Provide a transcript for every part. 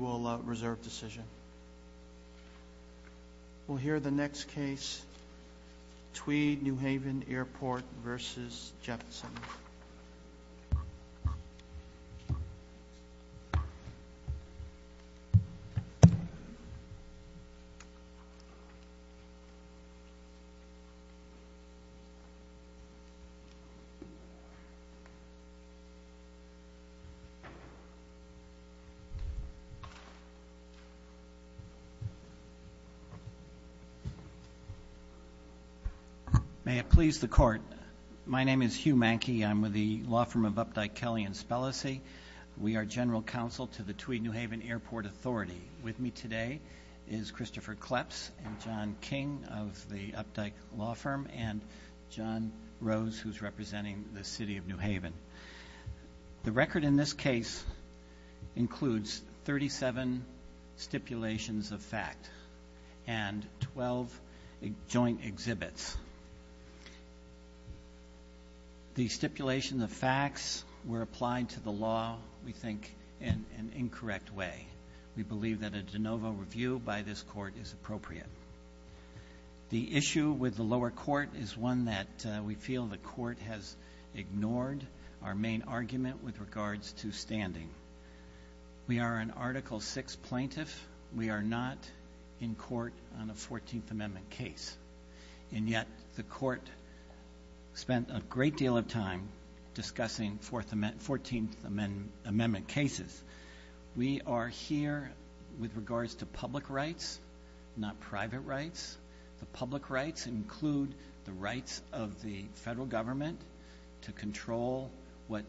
will reserve decision. We'll hear the next case. Tweed New Haven Airport versus Jefferson. May it please the court. My name is Hugh Manke. I'm with the law firm of Updike, Kelly & Spellacy. We are general counsel to the Tweed New Haven Airport Authority. With me today is Christopher Kleps and John King of the Updike law firm and John Rose who's representing the City of New Haven. The record in this case includes 37 stipulations of fact and 12 joint exhibits. The stipulations of facts were applied to the law, we think, in an incorrect way. We believe that a de novo review by this court is appropriate. The issue with the lower court is one that we feel the court has ignored our main argument with regards to standing. We are an Article 6 plaintiff. We are not in court on a 14th Amendment case. And yet the court spent a great deal of time discussing 14th Amendment cases. We are here with regards to public rights, not private rights. The public rights include the rights of the federal government to control what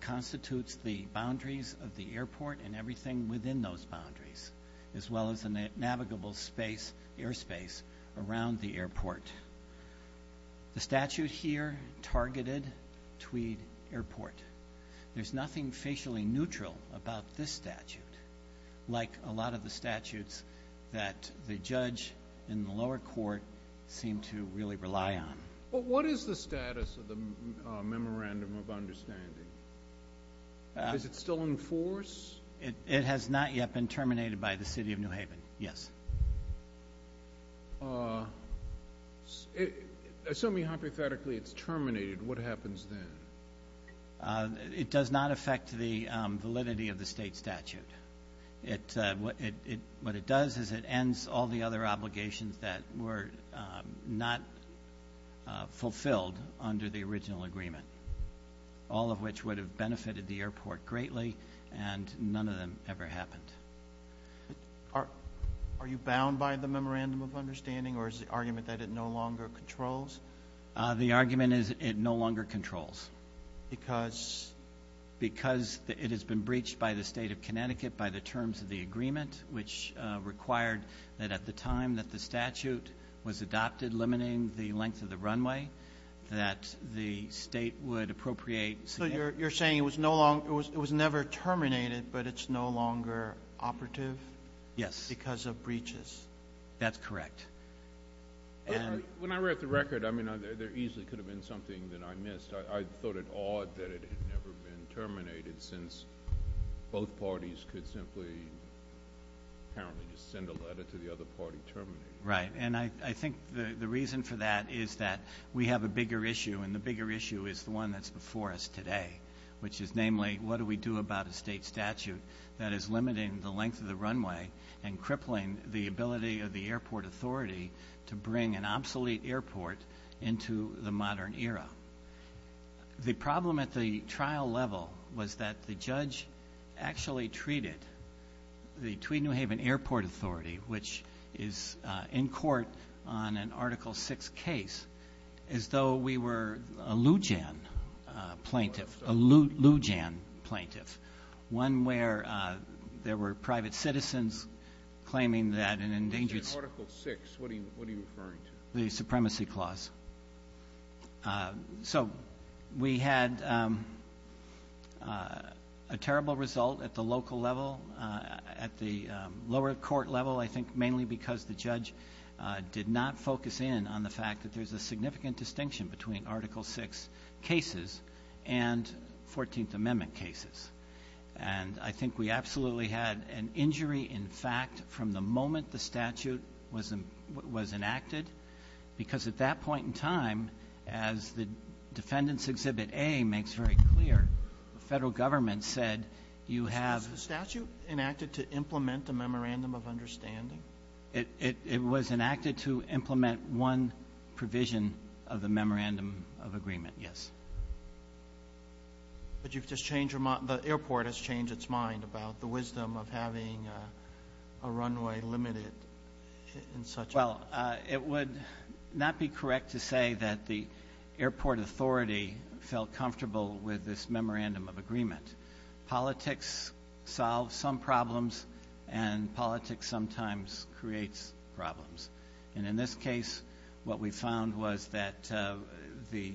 constitutes the boundaries of the airport and everything within those boundaries, as well as the navigable space, airspace, around the airport. The statute here targeted Tweed Airport. There's nothing facially neutral about this statute, like a lot of the statutes that the judge in the lower court seemed to really rely on. What is the status of the Memorandum of Understanding? Is it still in force? It has not yet been terminated by the City of New Haven, yes. Assuming hypothetically it's terminated, what happens then? It does not affect the validity of the state statute. What it does is it ends all the other obligations that were not fulfilled under the original agreement, all of which would have benefited the airport greatly, and none of them ever happened. Are you bound by the Memorandum of Understanding, or is the argument that it no longer controls? The argument is it no longer controls. Because? Because it has been breached by the state of Connecticut by the terms of the agreement, which required that at the time that the statute was adopted, limiting the length of the runway, that the state would appropriate. So you're saying it was never terminated, but it's no longer operative? Yes. Because of breaches? That's correct. When I read the record, I mean, there easily could have been something that I missed. I thought it odd that it had never been terminated, since both parties could simply, apparently, just send a letter to the other party terminating it. Right. And I think the reason for that is that we have a bigger issue, and the bigger issue is the one that's before us today, which is namely, what do we do about a state statute that is limiting the length of the runway and crippling the ability of the airport authority to bring an obsolete airport into the modern era? The problem at the trial level was that the judge actually treated the Tweed New Haven Airport Authority, which is in court on an Article VI case, as though we were a Loujain plaintiff, a Loujain plaintiff, one where there were private citizens claiming that an endangered- In Article VI, what are you referring to? The Supremacy Clause. So we had a terrible result at the local level, at the lower court level, I think mainly because the judge did not focus in on the fact that there's a significant distinction between Article VI cases and Fourteenth Amendment cases. And I think we absolutely had an injury, in fact, from the moment the statute was enacted, because at that point in time, as the Defendant's Exhibit A makes very clear, the federal government said you have- Was the statute enacted to implement the Memorandum of Understanding? It was enacted to implement one provision of the Memorandum of Agreement, yes. But you've just changed- the airport has changed its mind about the wisdom of having a runway limited in such a way. Well, it would not be correct to say that the airport authority felt comfortable with this Memorandum of Agreement. Politics solves some problems, and politics sometimes creates problems. And in this case, what we found was that the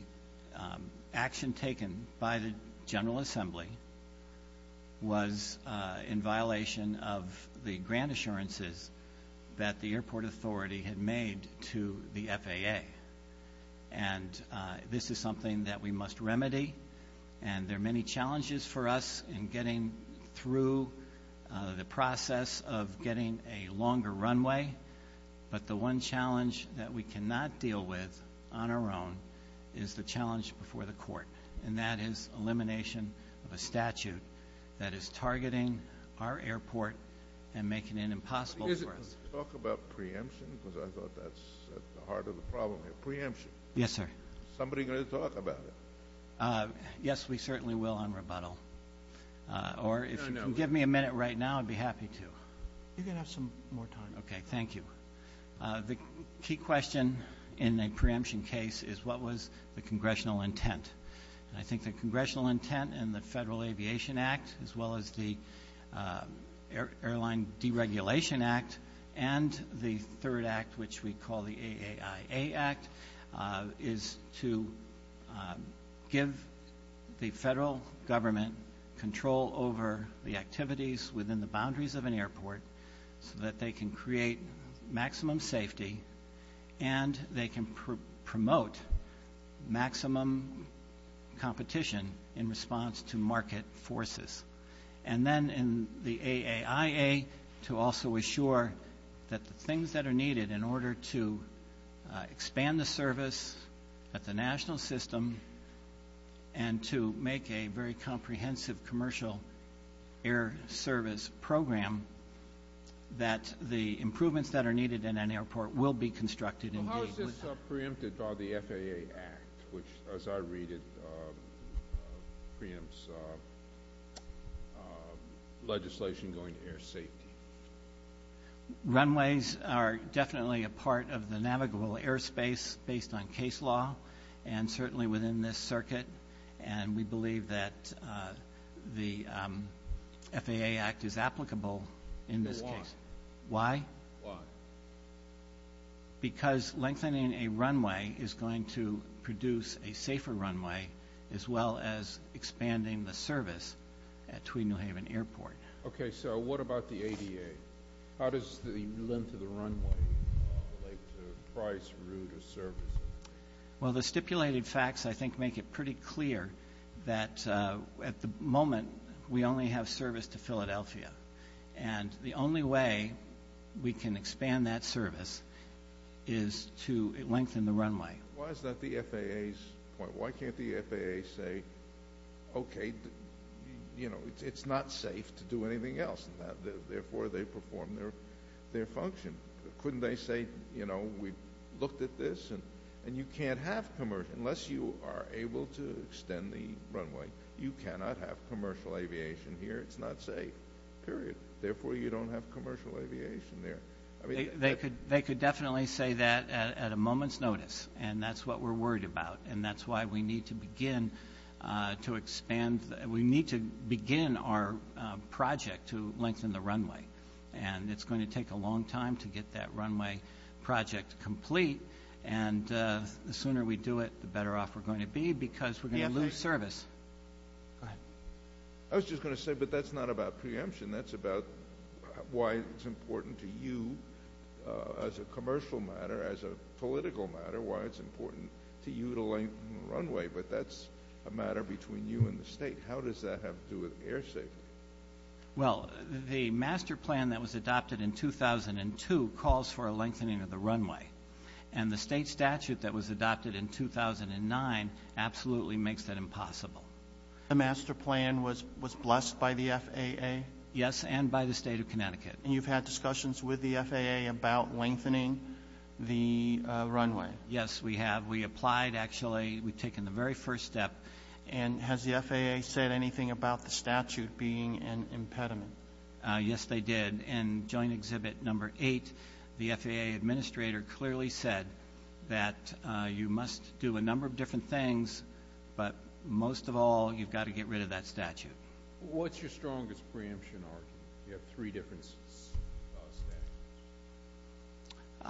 action taken by the General Assembly was in that the airport authority had made to the FAA. And this is something that we must remedy. And there are many challenges for us in getting through the process of getting a longer runway. But the one challenge that we cannot deal with on our own is the challenge before the court, and that is elimination of a statute that is targeting our airport and making it impossible for us. Could you talk about preemption? Because I thought that's at the heart of the problem here. Preemption. Yes, sir. Is somebody going to talk about it? Yes, we certainly will on rebuttal. Or if you can give me a minute right now, I'd be happy to. You can have some more time. Okay, thank you. The key question in a preemption case is what was the congressional intent? I think the congressional intent in the Federal Aviation Act, as well as the Airline Deregulation Act, and the third act, which we call the AAIA Act, is to give the federal government control over the activities within the boundaries of an airport so that they can create maximum safety and they can promote maximum competition in response to market forces. And then in the AAIA, to also assure that the things that are needed in order to expand the service at the national system and to make a very comprehensive commercial air service program, that the improvements that are needed in an airport will be constructed in the... legislation going to air safety. Runways are definitely a part of the navigable airspace based on case law, and certainly within this circuit, and we believe that the FAA Act is applicable in this case. Why? Why? Why? Because lengthening a runway is going to produce a safer runway, as well as expanding the service, at Tweed New Haven Airport. Okay, so what about the ADA? How does the length of the runway relate to price, route, or service? Well, the stipulated facts, I think, make it pretty clear that, at the moment, we only have service to Philadelphia, and the only way we can expand that service is to lengthen the runway. Why is that the FAA's point? Why can't the FAA say, okay, you know, it's not safe to do anything else, and therefore they perform their function? Couldn't they say, you know, we looked at this, and you can't have commercial... unless you are able to extend the runway, you cannot have commercial aviation here. It's not safe, period. Therefore, you don't have commercial aviation there. They could definitely say that at a moment's notice, and that's what we're worried about, and that's why we need to begin to expand. We need to begin our project to lengthen the runway, and it's going to take a long time to get that runway project complete, and the sooner we do it, the better off we're going to be because we're going to lose service. Go ahead. I was just going to say, but that's not about preemption. That's about why it's important to you, as a commercial matter, as a political matter, why it's important to you to lengthen the runway, but that's a matter between you and the state. How does that have to do with air safety? Well, the master plan that was adopted in 2002 calls for a lengthening of the runway, and the state statute that was adopted in 2009 absolutely makes that impossible. The master plan was blessed by the FAA? Yes, and by the State of Connecticut. And you've had discussions with the FAA about lengthening the runway? Yes, we have. We applied, actually. We've taken the very first step. And has the FAA said anything about the statute being an impediment? Yes, they did. In Joint Exhibit Number 8, the FAA administrator clearly said that you must do a number of different things, but most of all, you've got to get rid of that statute. What's your strongest preemption argument? You have three different statutes.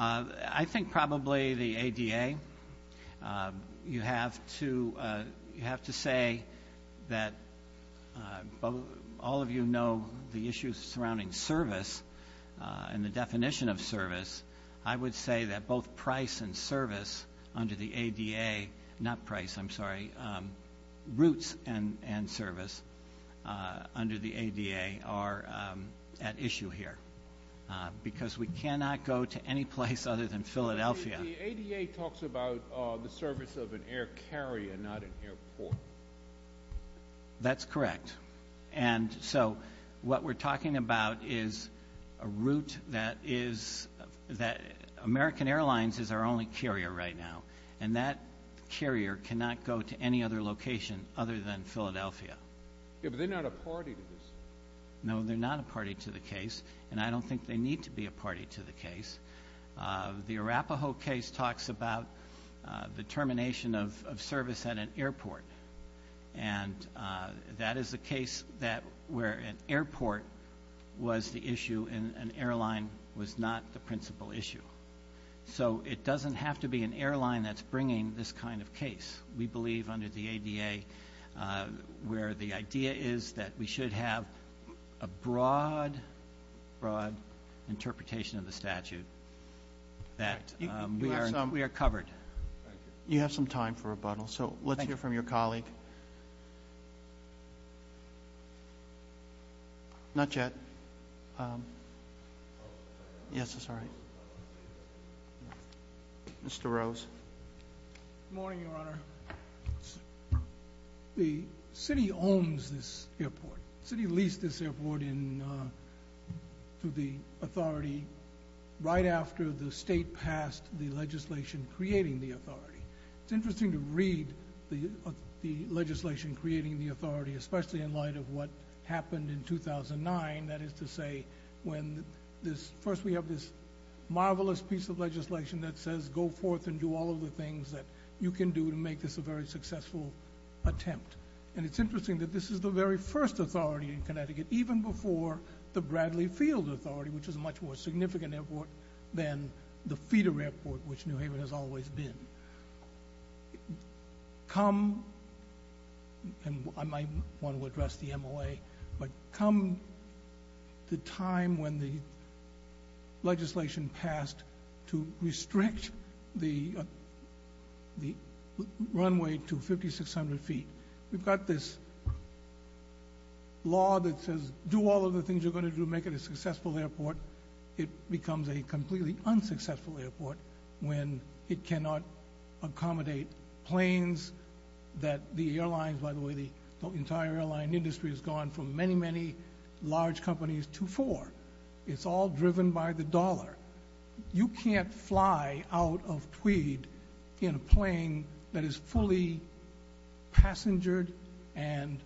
I think probably the ADA. You have to say that all of you know the issues surrounding service and the definition of service. I would say that both price and service under the ADA, not price, I'm sorry, routes and service under the ADA are at issue here, because we cannot go to any place other than Philadelphia. The ADA talks about the service of an air carrier, not an airport. That's correct. And so what we're talking about is a route that is – American Airlines is our only carrier right now, and that carrier cannot go to any other location other than Philadelphia. Yeah, but they're not a party to this. No, they're not a party to the case, and I don't think they need to be a party to the case. The Arapaho case talks about the termination of service at an airport, and that is a case where an airport was the issue and an airline was not the principal issue. So it doesn't have to be an airline that's bringing this kind of case. We believe under the ADA where the idea is that we should have a broad, broad interpretation of the statute, that we are covered. You have some time for rebuttal, so let's hear from your colleague. Not yet. Yes, sorry. Mr. Rose. Good morning, Your Honor. The city owns this airport. The city leased this airport to the authority right after the state passed the legislation creating the authority. It's interesting to read the legislation creating the authority, especially in light of what happened in 2009, that is to say when first we have this marvelous piece of legislation that says go forth and do all of the things that you can do to make this a very successful attempt. And it's interesting that this is the very first authority in Connecticut, even before the Bradley Field Authority, which is a much more significant airport than the feeder airport, which New Haven has always been. Come, and I might want to address the MOA, but come the time when the legislation passed to restrict the runway to 5,600 feet. We've got this law that says do all of the things you're going to do to make it a successful airport. It becomes a completely unsuccessful airport when it cannot accommodate planes that the airlines, by the way, the entire airline industry has gone from many, many large companies to four. It's all driven by the dollar. You can't fly out of Tweed in a plane that is fully passenger and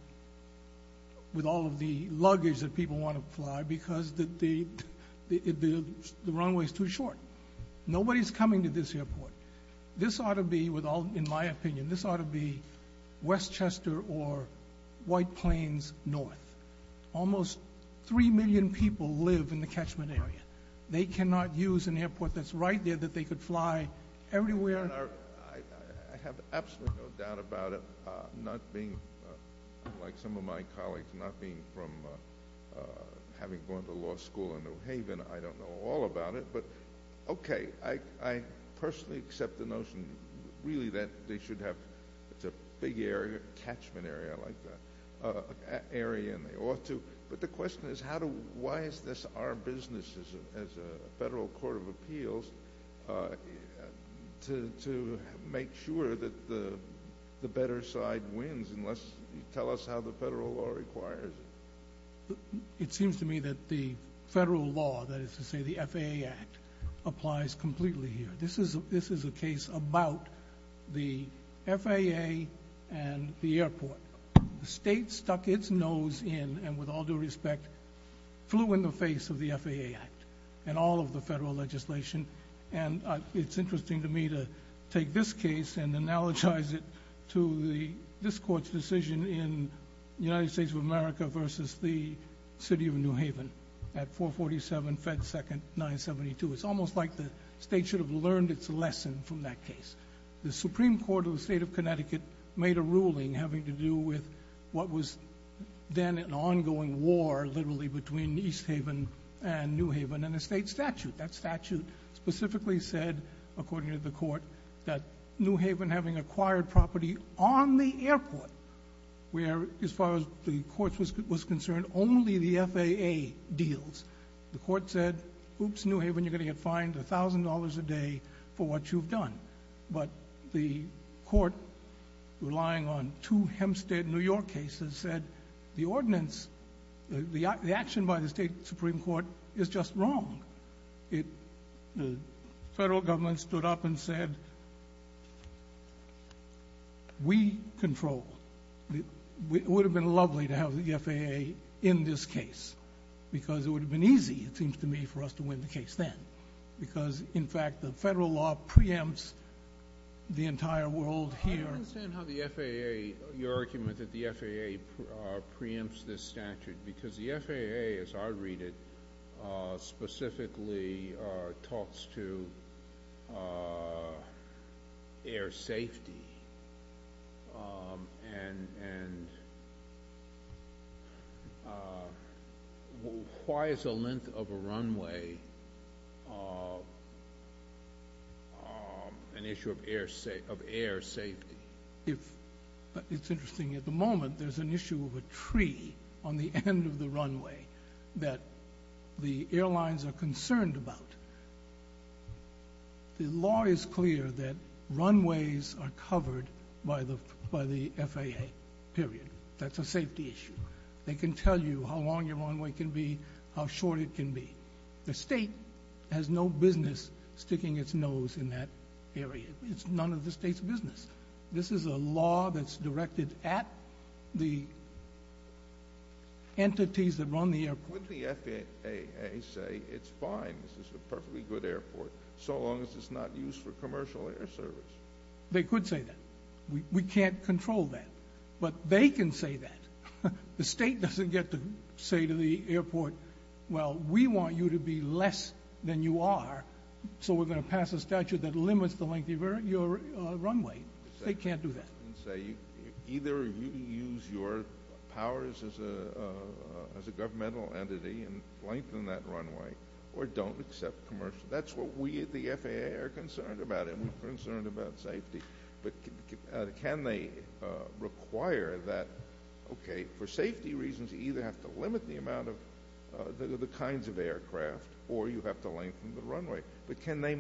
with all of the luggage that people want to fly because the runway is too short. Nobody is coming to this airport. This ought to be, in my opinion, this ought to be Westchester or White Plains north. Almost 3 million people live in the catchment area. They cannot use an airport that's right there that they could fly everywhere. I have absolutely no doubt about it, not being like some of my colleagues, not being from having gone to law school in New Haven. I don't know all about it, but okay. I personally accept the notion really that they should have a big area, catchment area, I like that, area, and they ought to. But the question is, why is this our business as a federal court of appeals to make sure that the better side wins unless you tell us how the federal law requires it? It seems to me that the federal law, that is to say the FAA Act, applies completely here. This is a case about the FAA and the airport. The state stuck its nose in and, with all due respect, flew in the face of the FAA Act and all of the federal legislation, and it's interesting to me to take this case and analogize it to this court's decision in the United States of America versus the city of New Haven at 447 Fed Second 972. It's almost like the state should have learned its lesson from that case. The Supreme Court of the state of Connecticut made a ruling having to do with what was then an ongoing war, literally, between East Haven and New Haven in a state statute. That statute specifically said, according to the court, that New Haven, having acquired property on the airport, where, as far as the court was concerned, only the FAA deals, the court said, oops, New Haven, you're going to get fined $1,000 a day for what you've done. But the court, relying on two Hempstead, New York cases, said the ordinance, the action by the state Supreme Court is just wrong. The federal government stood up and said, we control. It would have been lovely to have the FAA in this case because it would have been easy, it seems to me, for us to win the case then because, in fact, the federal law preempts the entire world here. I don't understand how the FAA, your argument that the FAA preempts this statute because the FAA, as I read it, it's interesting, at the moment, there's an issue of a tree on the end of the runway that the airlines are concerned about. The law is clear that runways are covered by the FAA, period. That's a safety issue. They can tell you how long your runway can be, how short it can be. The state has no business sticking its nose in that area. It's none of the state's business. This is a law that's directed at the entities that run the airport. Wouldn't the FAA say it's fine, this is a perfectly good airport, so long as it's not used for commercial air service? They could say that. We can't control that. But they can say that. The state doesn't get to say to the airport, well, we want you to be less than you are, so we're going to pass a statute that limits the length of your runway. They can't do that. Either you use your powers as a governmental entity and lengthen that runway or don't accept commercial. That's what we at the FAA are concerned about. We're concerned about safety. But can they require that, okay, for safety reasons, you either have to limit the amount of the kinds of aircraft or you have to lengthen the runway. But can they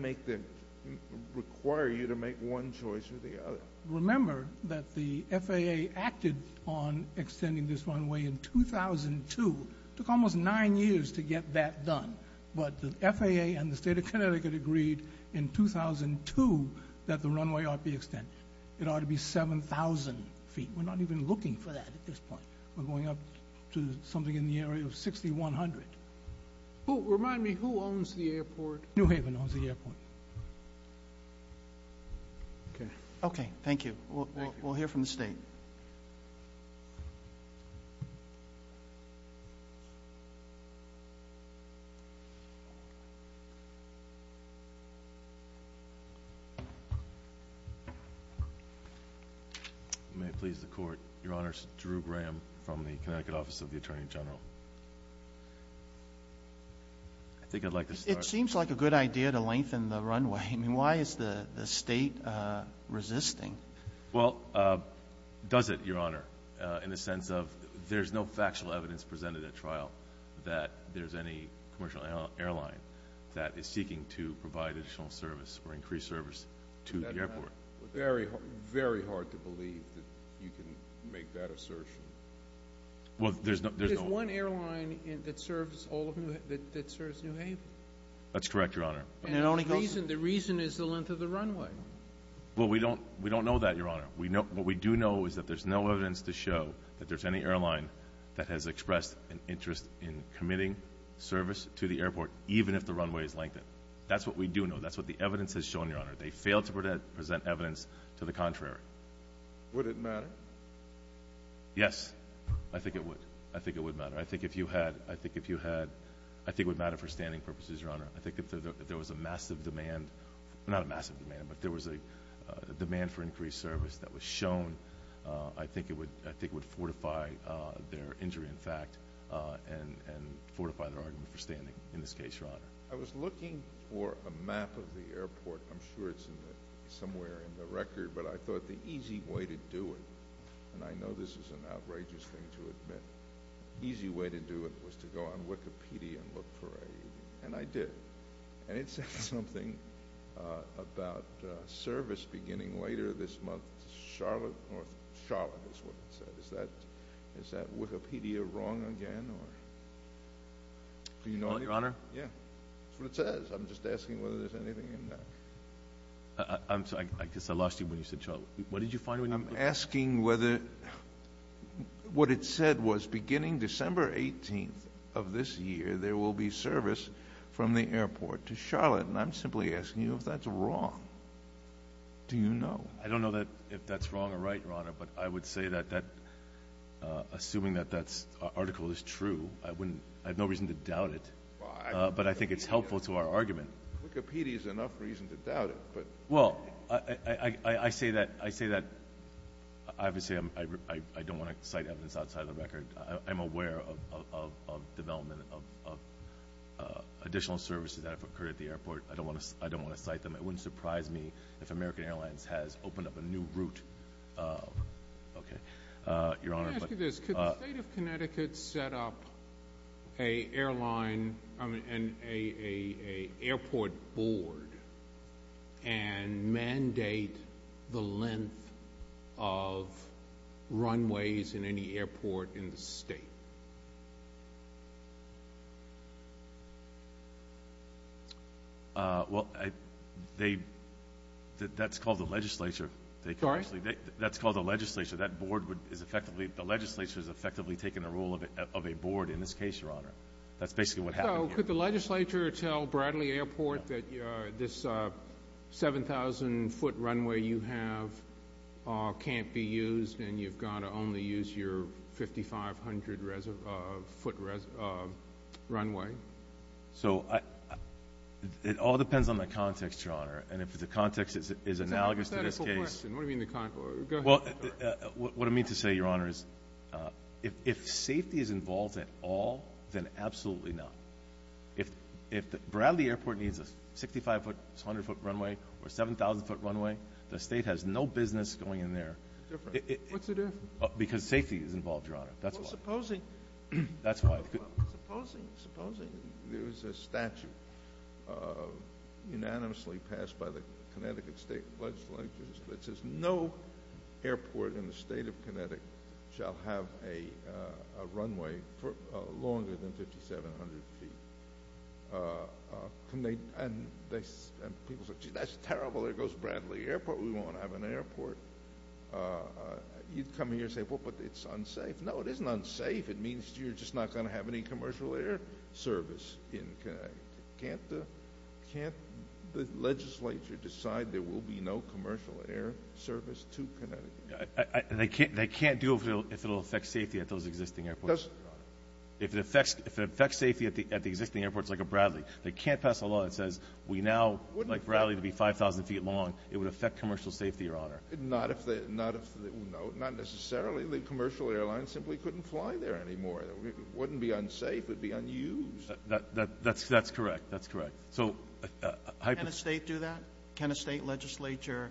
require you to make one choice or the other? Remember that the FAA acted on extending this runway in 2002. It took almost nine years to get that done. But the FAA and the state of Connecticut agreed in 2002 that the runway ought to be extended. It ought to be 7,000 feet. We're not even looking for that at this point. We're going up to something in the area of 6,100. Remind me, who owns the airport? New Haven owns the airport. Okay, thank you. We'll hear from the state. Thank you. May it please the Court. Your Honor, it's Drew Graham from the Connecticut Office of the Attorney General. I think I'd like to start. It seems like a good idea to lengthen the runway. I mean, why is the state resisting? Well, does it, Your Honor, in the sense of there's no factual evidence presented at trial that there's any commercial airline that is seeking to provide additional service or increase service to the airport. Very hard to believe that you can make that assertion. There's one airline that serves New Haven. That's correct, Your Honor. The reason is the length of the runway. Well, we don't know that, Your Honor. What we do know is that there's no evidence to show that there's any airline that has expressed an interest in committing service to the airport, even if the runway is lengthened. That's what we do know. That's what the evidence has shown, Your Honor. They failed to present evidence to the contrary. Would it matter? Yes, I think it would. I think it would matter. I think it would matter for standing purposes, Your Honor. I think if there was a massive demand, not a massive demand, but if there was a demand for increased service that was shown, I think it would fortify their injury in fact and fortify their argument for standing in this case, Your Honor. I was looking for a map of the airport. I'm sure it's somewhere in the record, but I thought the easy way to do it, and I know this is an outrageous thing to admit, but I thought the easy way to do it was to go on Wikipedia and look for AED, and I did, and it said something about service beginning later this month. Charlotte is what it said. Is that Wikipedia wrong again? Well, Your Honor. Yeah. That's what it says. I'm just asking whether there's anything in there. I'm sorry. I guess I lost you when you said Charlotte. What did you find when you looked? I'm asking whether what it said was beginning December 18th of this year, there will be service from the airport to Charlotte, and I'm simply asking you if that's wrong. Do you know? I don't know if that's wrong or right, Your Honor, but I would say that assuming that that article is true, I have no reason to doubt it, but I think it's helpful to our argument. Wikipedia is enough reason to doubt it. Well, I say that obviously I don't want to cite evidence outside of the record. I'm aware of development of additional services that have occurred at the airport. I don't want to cite them. It wouldn't surprise me if American Airlines has opened up a new route. Okay. And mandate the length of runways in any airport in the state. Well, that's called the legislature. Sorry? That's called the legislature. The legislature has effectively taken the role of a board in this case, Your Honor. That's basically what happened here. So could the legislature tell Bradley Airport that this 7,000-foot runway you have can't be used and you've got to only use your 5,500-foot runway? So it all depends on the context, Your Honor, and if the context is analogous to this case. That's a hypothetical question. Go ahead. Well, what I mean to say, Your Honor, is if safety is involved at all, then absolutely not. If Bradley Airport needs a 65-foot, 200-foot runway or 7,000-foot runway, the state has no business going in there. What's the difference? Because safety is involved, Your Honor. That's why. Well, supposing there is a statute unanimously passed by the Connecticut State Legislature that says no airport in the state of Connecticut shall have a runway longer than 5,700 feet. And people say, gee, that's terrible. There goes Bradley Airport. We won't have an airport. You'd come here and say, well, but it's unsafe. No, it isn't unsafe. It means you're just not going to have any commercial air service in Connecticut. Can't the legislature decide there will be no commercial air service to Connecticut? They can't do it if it will affect safety at those existing airports. If it affects safety at the existing airports like at Bradley. They can't pass a law that says we now like Bradley to be 5,000 feet long. It would affect commercial safety, Your Honor. Not necessarily. The commercial airlines simply couldn't fly there anymore. It wouldn't be unsafe. It would be unused. That's correct. That's correct. Can a state do that? Can a state legislature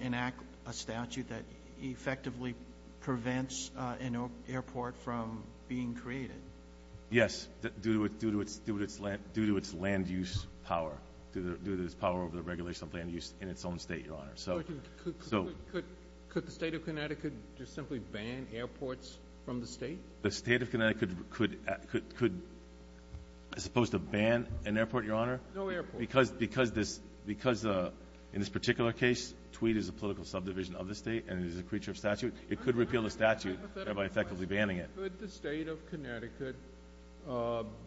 enact a statute that effectively prevents an airport from being created? Yes, due to its land use power, due to its power over the regulation of land use in its own state, Your Honor. Could the state of Connecticut just simply ban airports from the state? The state of Connecticut could, as opposed to ban an airport, Your Honor? No airport. Because in this particular case, Tweed is a political subdivision of the state and it is a creature of statute, it could repeal the statute by effectively banning it. Could the state of Connecticut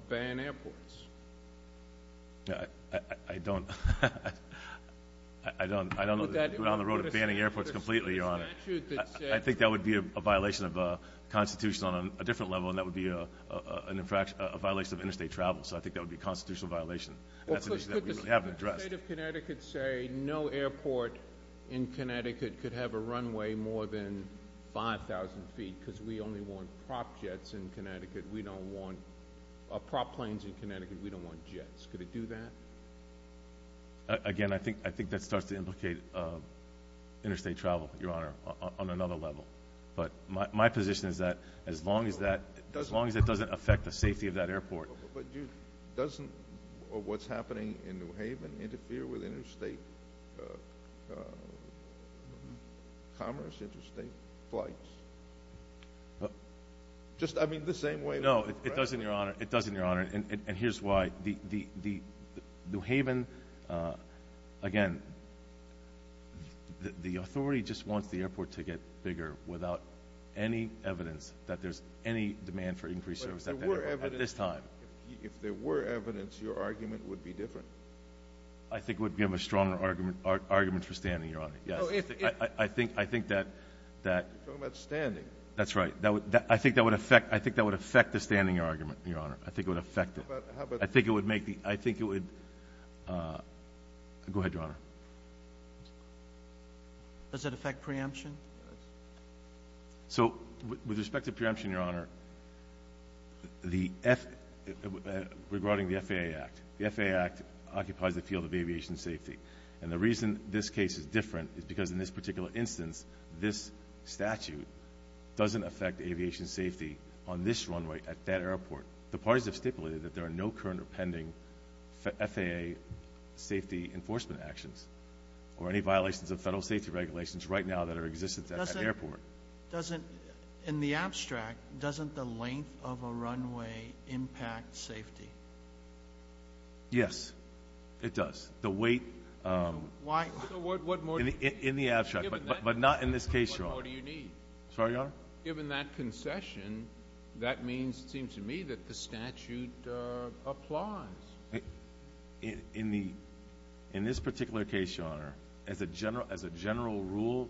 ban airports? I don't know that we're on the road to banning airports completely, Your Honor. I think that would be a violation of the Constitution on a different level, and that would be a violation of interstate travel. So I think that would be a constitutional violation. Could the state of Connecticut say no airport in Connecticut could have a runway more than 5,000 feet because we only want prop planes in Connecticut, we don't want jets. Could it do that? Again, I think that starts to implicate interstate travel, Your Honor, on another level. But my position is that as long as that doesn't affect the safety of that airport. But doesn't what's happening in New Haven interfere with interstate commerce, interstate flights? Just, I mean, the same way. No, it doesn't, Your Honor. It doesn't, Your Honor, and here's why. New Haven, again, the authority just wants the airport to get bigger without any evidence that there's any demand for increased service at this time. But if there were evidence, your argument would be different. I think it would give a stronger argument for standing, Your Honor, yes. I think that that. You're talking about standing. That's right. I think that would affect the standing argument, Your Honor. I think it would affect it. I think it would make the, I think it would. Go ahead, Your Honor. Does it affect preemption? So with respect to preemption, Your Honor, regarding the FAA Act, the FAA Act occupies the field of aviation safety. And the reason this case is different is because in this particular instance, this statute doesn't affect aviation safety on this runway at that airport. The parties have stipulated that there are no current or pending FAA safety enforcement actions or any violations of federal safety regulations right now that are in existence at that airport. In the abstract, doesn't the length of a runway impact safety? Yes, it does. Why? In the abstract, but not in this case, Your Honor. What more do you need? Sorry, Your Honor? Given that concession, that means, it seems to me, that the statute applies. In this particular case, Your Honor, as a general rule,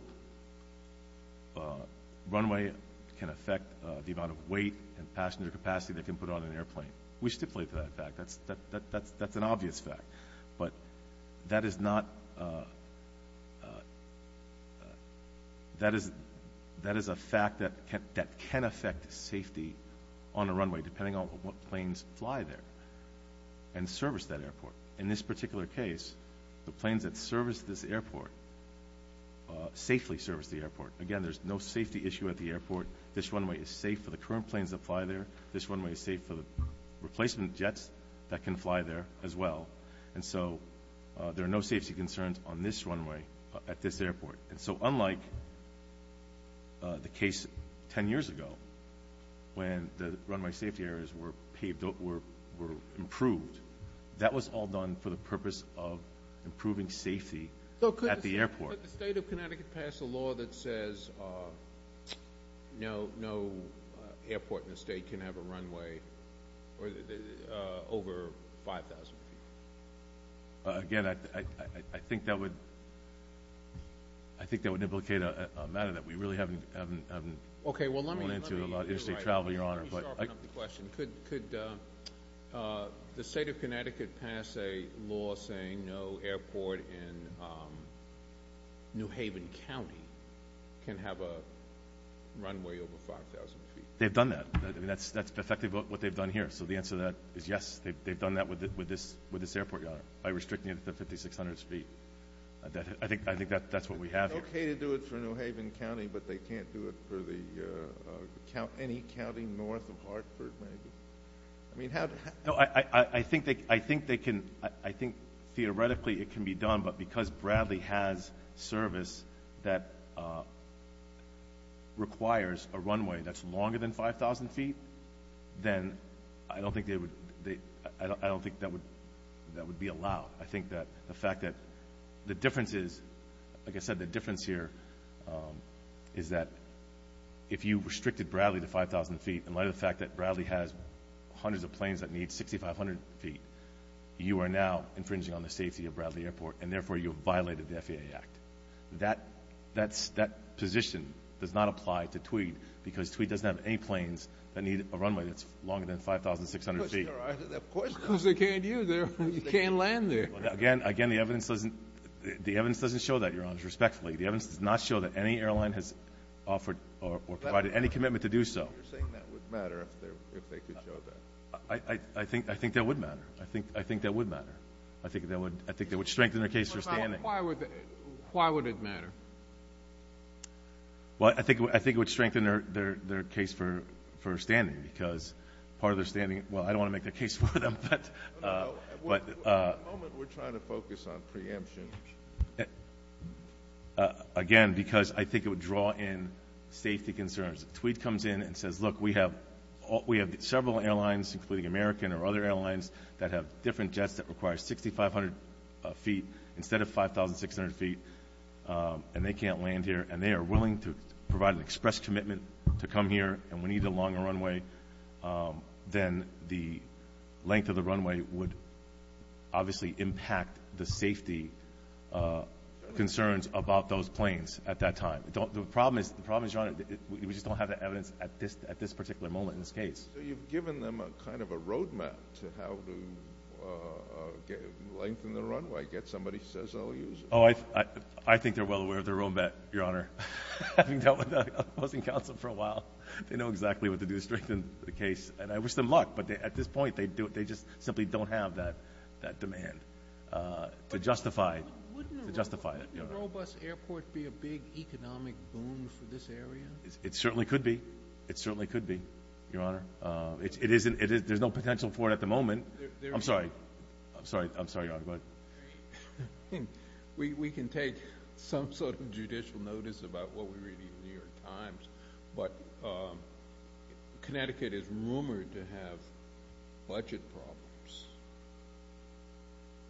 runway can affect the amount of weight and passenger capacity they can put on an airplane. We stipulate that fact. That's an obvious fact. But that is a fact that can affect safety on a runway depending on what planes fly there and service that airport. In this particular case, the planes that service this airport safely service the airport. Again, there's no safety issue at the airport. This runway is safe for the current planes that fly there. This runway is safe for the replacement jets that can fly there as well. And so there are no safety concerns on this runway at this airport. And so unlike the case 10 years ago when the runway safety areas were improved, that was all done for the purpose of improving safety at the airport. Could the State of Connecticut pass a law that says no airport in the state can have a runway over 5,000 feet? Again, I think that would implicate a matter that we really haven't gone into a lot in interstate travel, Your Honor. Could the State of Connecticut pass a law saying no airport in New Haven County can have a runway over 5,000 feet? They've done that. That's effectively what they've done here. So the answer to that is yes, they've done that with this airport, Your Honor, by restricting it to 5,600 feet. I think that's what we have here. It's okay to do it for New Haven County, but they can't do it for any county north of Hartford, maybe? I mean, how – No, I think they can – I think theoretically it can be done, but because Bradley has service that requires a runway that's longer than 5,000 feet, then I don't think that would be allowed. I think that the fact that the difference is – like I said, the difference here is that if you restricted Bradley to 5,000 feet, in light of the fact that Bradley has hundreds of planes that need 6,500 feet, you are now infringing on the safety of Bradley Airport, and therefore you have violated the FAA Act. That position does not apply to Tweed because Tweed doesn't have any planes that need a runway that's longer than 5,600 feet. Of course, Your Honor, of course they can't do that. You can't land there. Again, the evidence doesn't show that, Your Honor, respectfully. The evidence does not show that any airline has offered or provided any commitment to do so. You're saying that would matter if they could show that. I think that would matter. I think that would matter. I think that would strengthen their case for standing. Why would it matter? Well, I think it would strengthen their case for standing because part of their standing – At the moment, we're trying to focus on preemption. Again, because I think it would draw in safety concerns. If Tweed comes in and says, look, we have several airlines, including American or other airlines, that have different jets that require 6,500 feet instead of 5,600 feet, and they can't land here, and they are willing to provide an express commitment to come here and we need a longer runway, then the length of the runway would obviously impact the safety concerns about those planes at that time. The problem is, Your Honor, we just don't have the evidence at this particular moment in this case. So you've given them kind of a roadmap to how to lengthen the runway, get somebody who says they'll use it. Oh, I think they're well aware of their own bet, Your Honor. Having dealt with opposing counsel for a while, they know exactly what to do to strengthen the case, and I wish them luck, but at this point, they just simply don't have that demand to justify it. Wouldn't a robust airport be a big economic boom for this area? It certainly could be. It certainly could be, Your Honor. There's no potential for it at the moment. I'm sorry. I'm sorry, Your Honor. Go ahead. We can take some sort of judicial notice about what we read in the New York Times, but Connecticut is rumored to have budget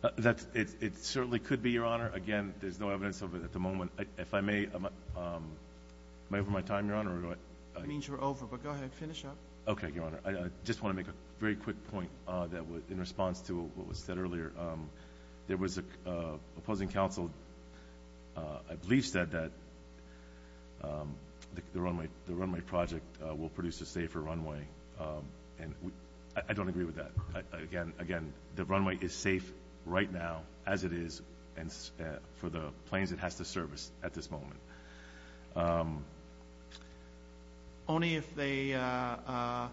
problems. It certainly could be, Your Honor. Again, there's no evidence of it at the moment. If I may, am I over my time, Your Honor? That means you're over, but go ahead and finish up. Okay, Your Honor. I just want to make a very quick point in response to what was said earlier. There was an opposing counsel, I believe said that the runway project will produce a safer runway, and I don't agree with that. Again, the runway is safe right now as it is for the planes it has to service at this moment. Only if they are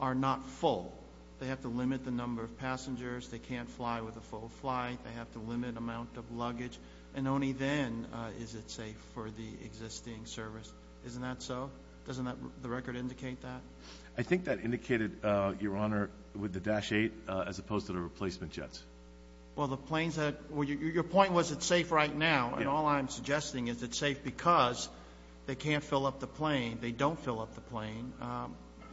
not full. They have to limit the number of passengers. They can't fly with a full flight. They have to limit the amount of luggage, and only then is it safe for the existing service. Isn't that so? Doesn't the record indicate that? I think that indicated, Your Honor, with the Dash 8 as opposed to the replacement jets. Well, the planes that – your point was it's safe right now, and all I'm suggesting is it's safe because they can't fill up the plane. They don't fill up the plane.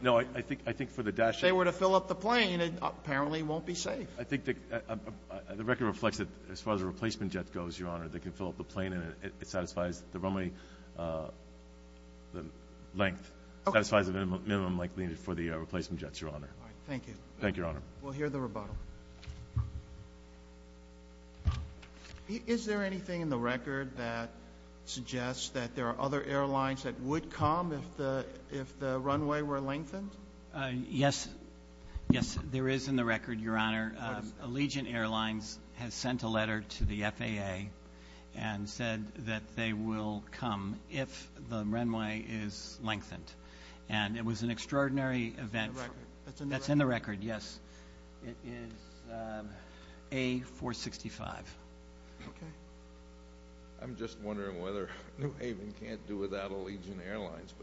No, I think for the Dash 8. If they were to fill up the plane, it apparently won't be safe. I think the record reflects that as far as the replacement jet goes, Your Honor, they can fill up the plane and it satisfies the runway length, satisfies the minimum length needed for the replacement jets, Your Honor. All right, thank you. Thank you, Your Honor. We'll hear the rebuttal. Is there anything in the record that suggests that there are other airlines that would come if the runway were lengthened? Yes. Yes, there is in the record, Your Honor. Allegiant Airlines has sent a letter to the FAA and said that they will come if the runway is lengthened. And it was an extraordinary event. That's in the record. That's in the record, yes. It is A465. Okay. I'm just wondering whether New Haven can't do without Allegiant Airlines.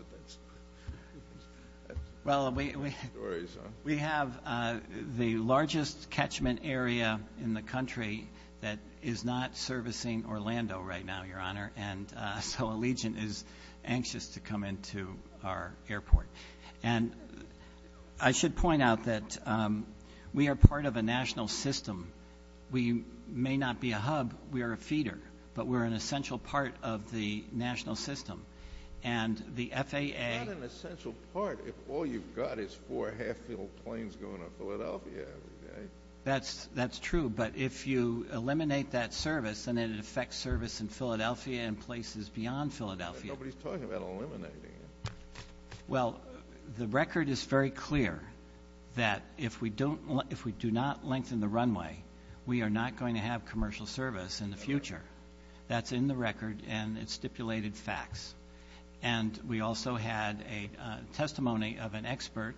Well, we have the largest catchment area in the country that is not servicing Orlando right now, Your Honor, and so Allegiant is anxious to come into our airport. And I should point out that we are part of a national system. We may not be a hub. We are a feeder. But we're an essential part of the national system. And the FAA ---- Not an essential part if all you've got is four half-filled planes going to Philadelphia every day. That's true. But if you eliminate that service, then it affects service in Philadelphia and places beyond Philadelphia. Nobody's talking about eliminating it. Well, the record is very clear that if we do not lengthen the runway, we are not going to have commercial service in the future. That's in the record, and it's stipulated facts. And we also had a testimony of an expert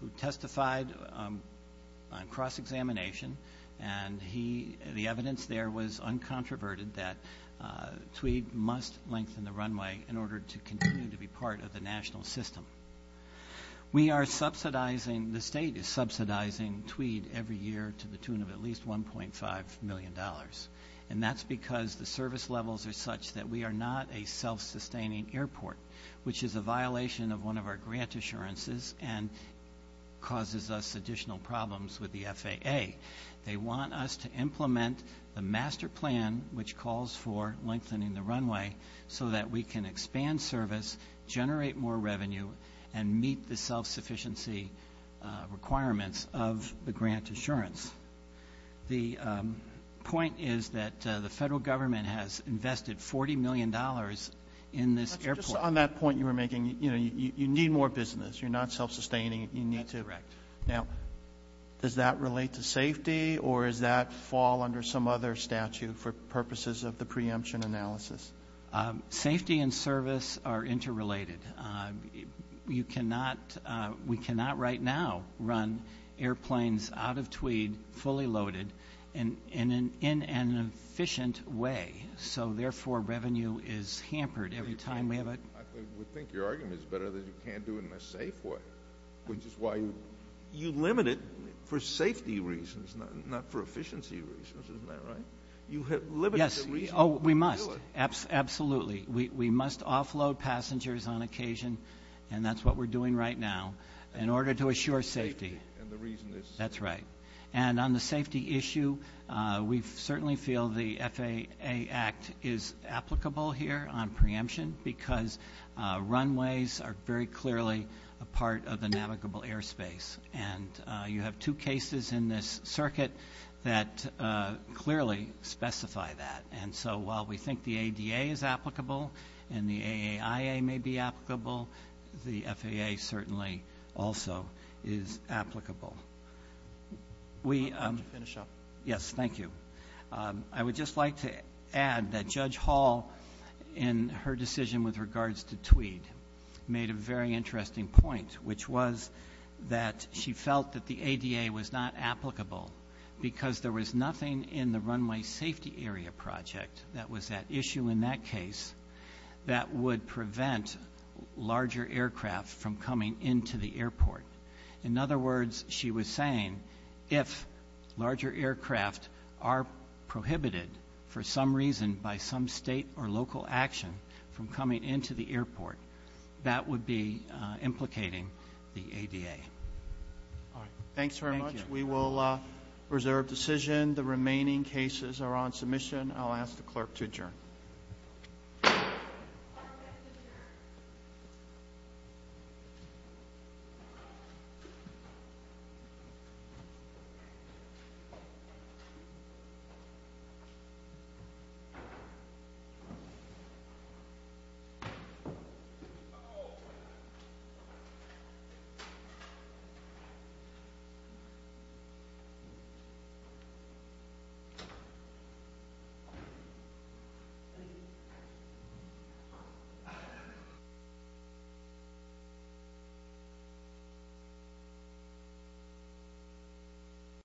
who testified on cross-examination, and the evidence there was uncontroverted, that Tweed must lengthen the runway in order to continue to be part of the national system. We are subsidizing ---- The state is subsidizing Tweed every year to the tune of at least $1.5 million. And that's because the service levels are such that we are not a self-sustaining airport, which is a violation of one of our grant assurances and causes us additional problems with the FAA. They want us to implement the master plan, which calls for lengthening the runway, so that we can expand service, generate more revenue, and meet the self-sufficiency requirements of the grant insurance. The point is that the federal government has invested $40 million in this airport. Just on that point you were making, you need more business. You're not self-sustaining. You need to ---- That's correct. Now, does that relate to safety, or does that fall under some other statute for purposes of the preemption analysis? Safety and service are interrelated. We cannot right now run airplanes out of Tweed fully loaded in an efficient way, so therefore revenue is hampered every time we have a ---- I would think your argument is better that you can't do it in a safe way, which is why you limit it for safety reasons, not for efficiency reasons. Isn't that right? Yes. Oh, we must. Absolutely. We must offload passengers on occasion, and that's what we're doing right now, in order to assure safety. And the reason is ---- That's right. And on the safety issue, we certainly feel the FAA Act is applicable here on preemption because runways are very clearly a part of the navigable airspace. And you have two cases in this circuit that clearly specify that. And so while we think the ADA is applicable and the AIA may be applicable, the FAA certainly also is applicable. I'll let you finish up. Yes, thank you. I would just like to add that Judge Hall, in her decision with regards to Tweed, made a very interesting point, which was that she felt that the ADA was not applicable because there was nothing in the runway safety area project that was at issue in that case that would prevent larger aircraft from coming into the airport. In other words, she was saying if larger aircraft are prohibited for some reason by some state or local action from coming into the airport, that would be implicating the ADA. All right. Thanks very much. Thank you. We will reserve decision. The remaining cases are on submission. I'll ask the clerk to adjourn. Thank you. Thank you.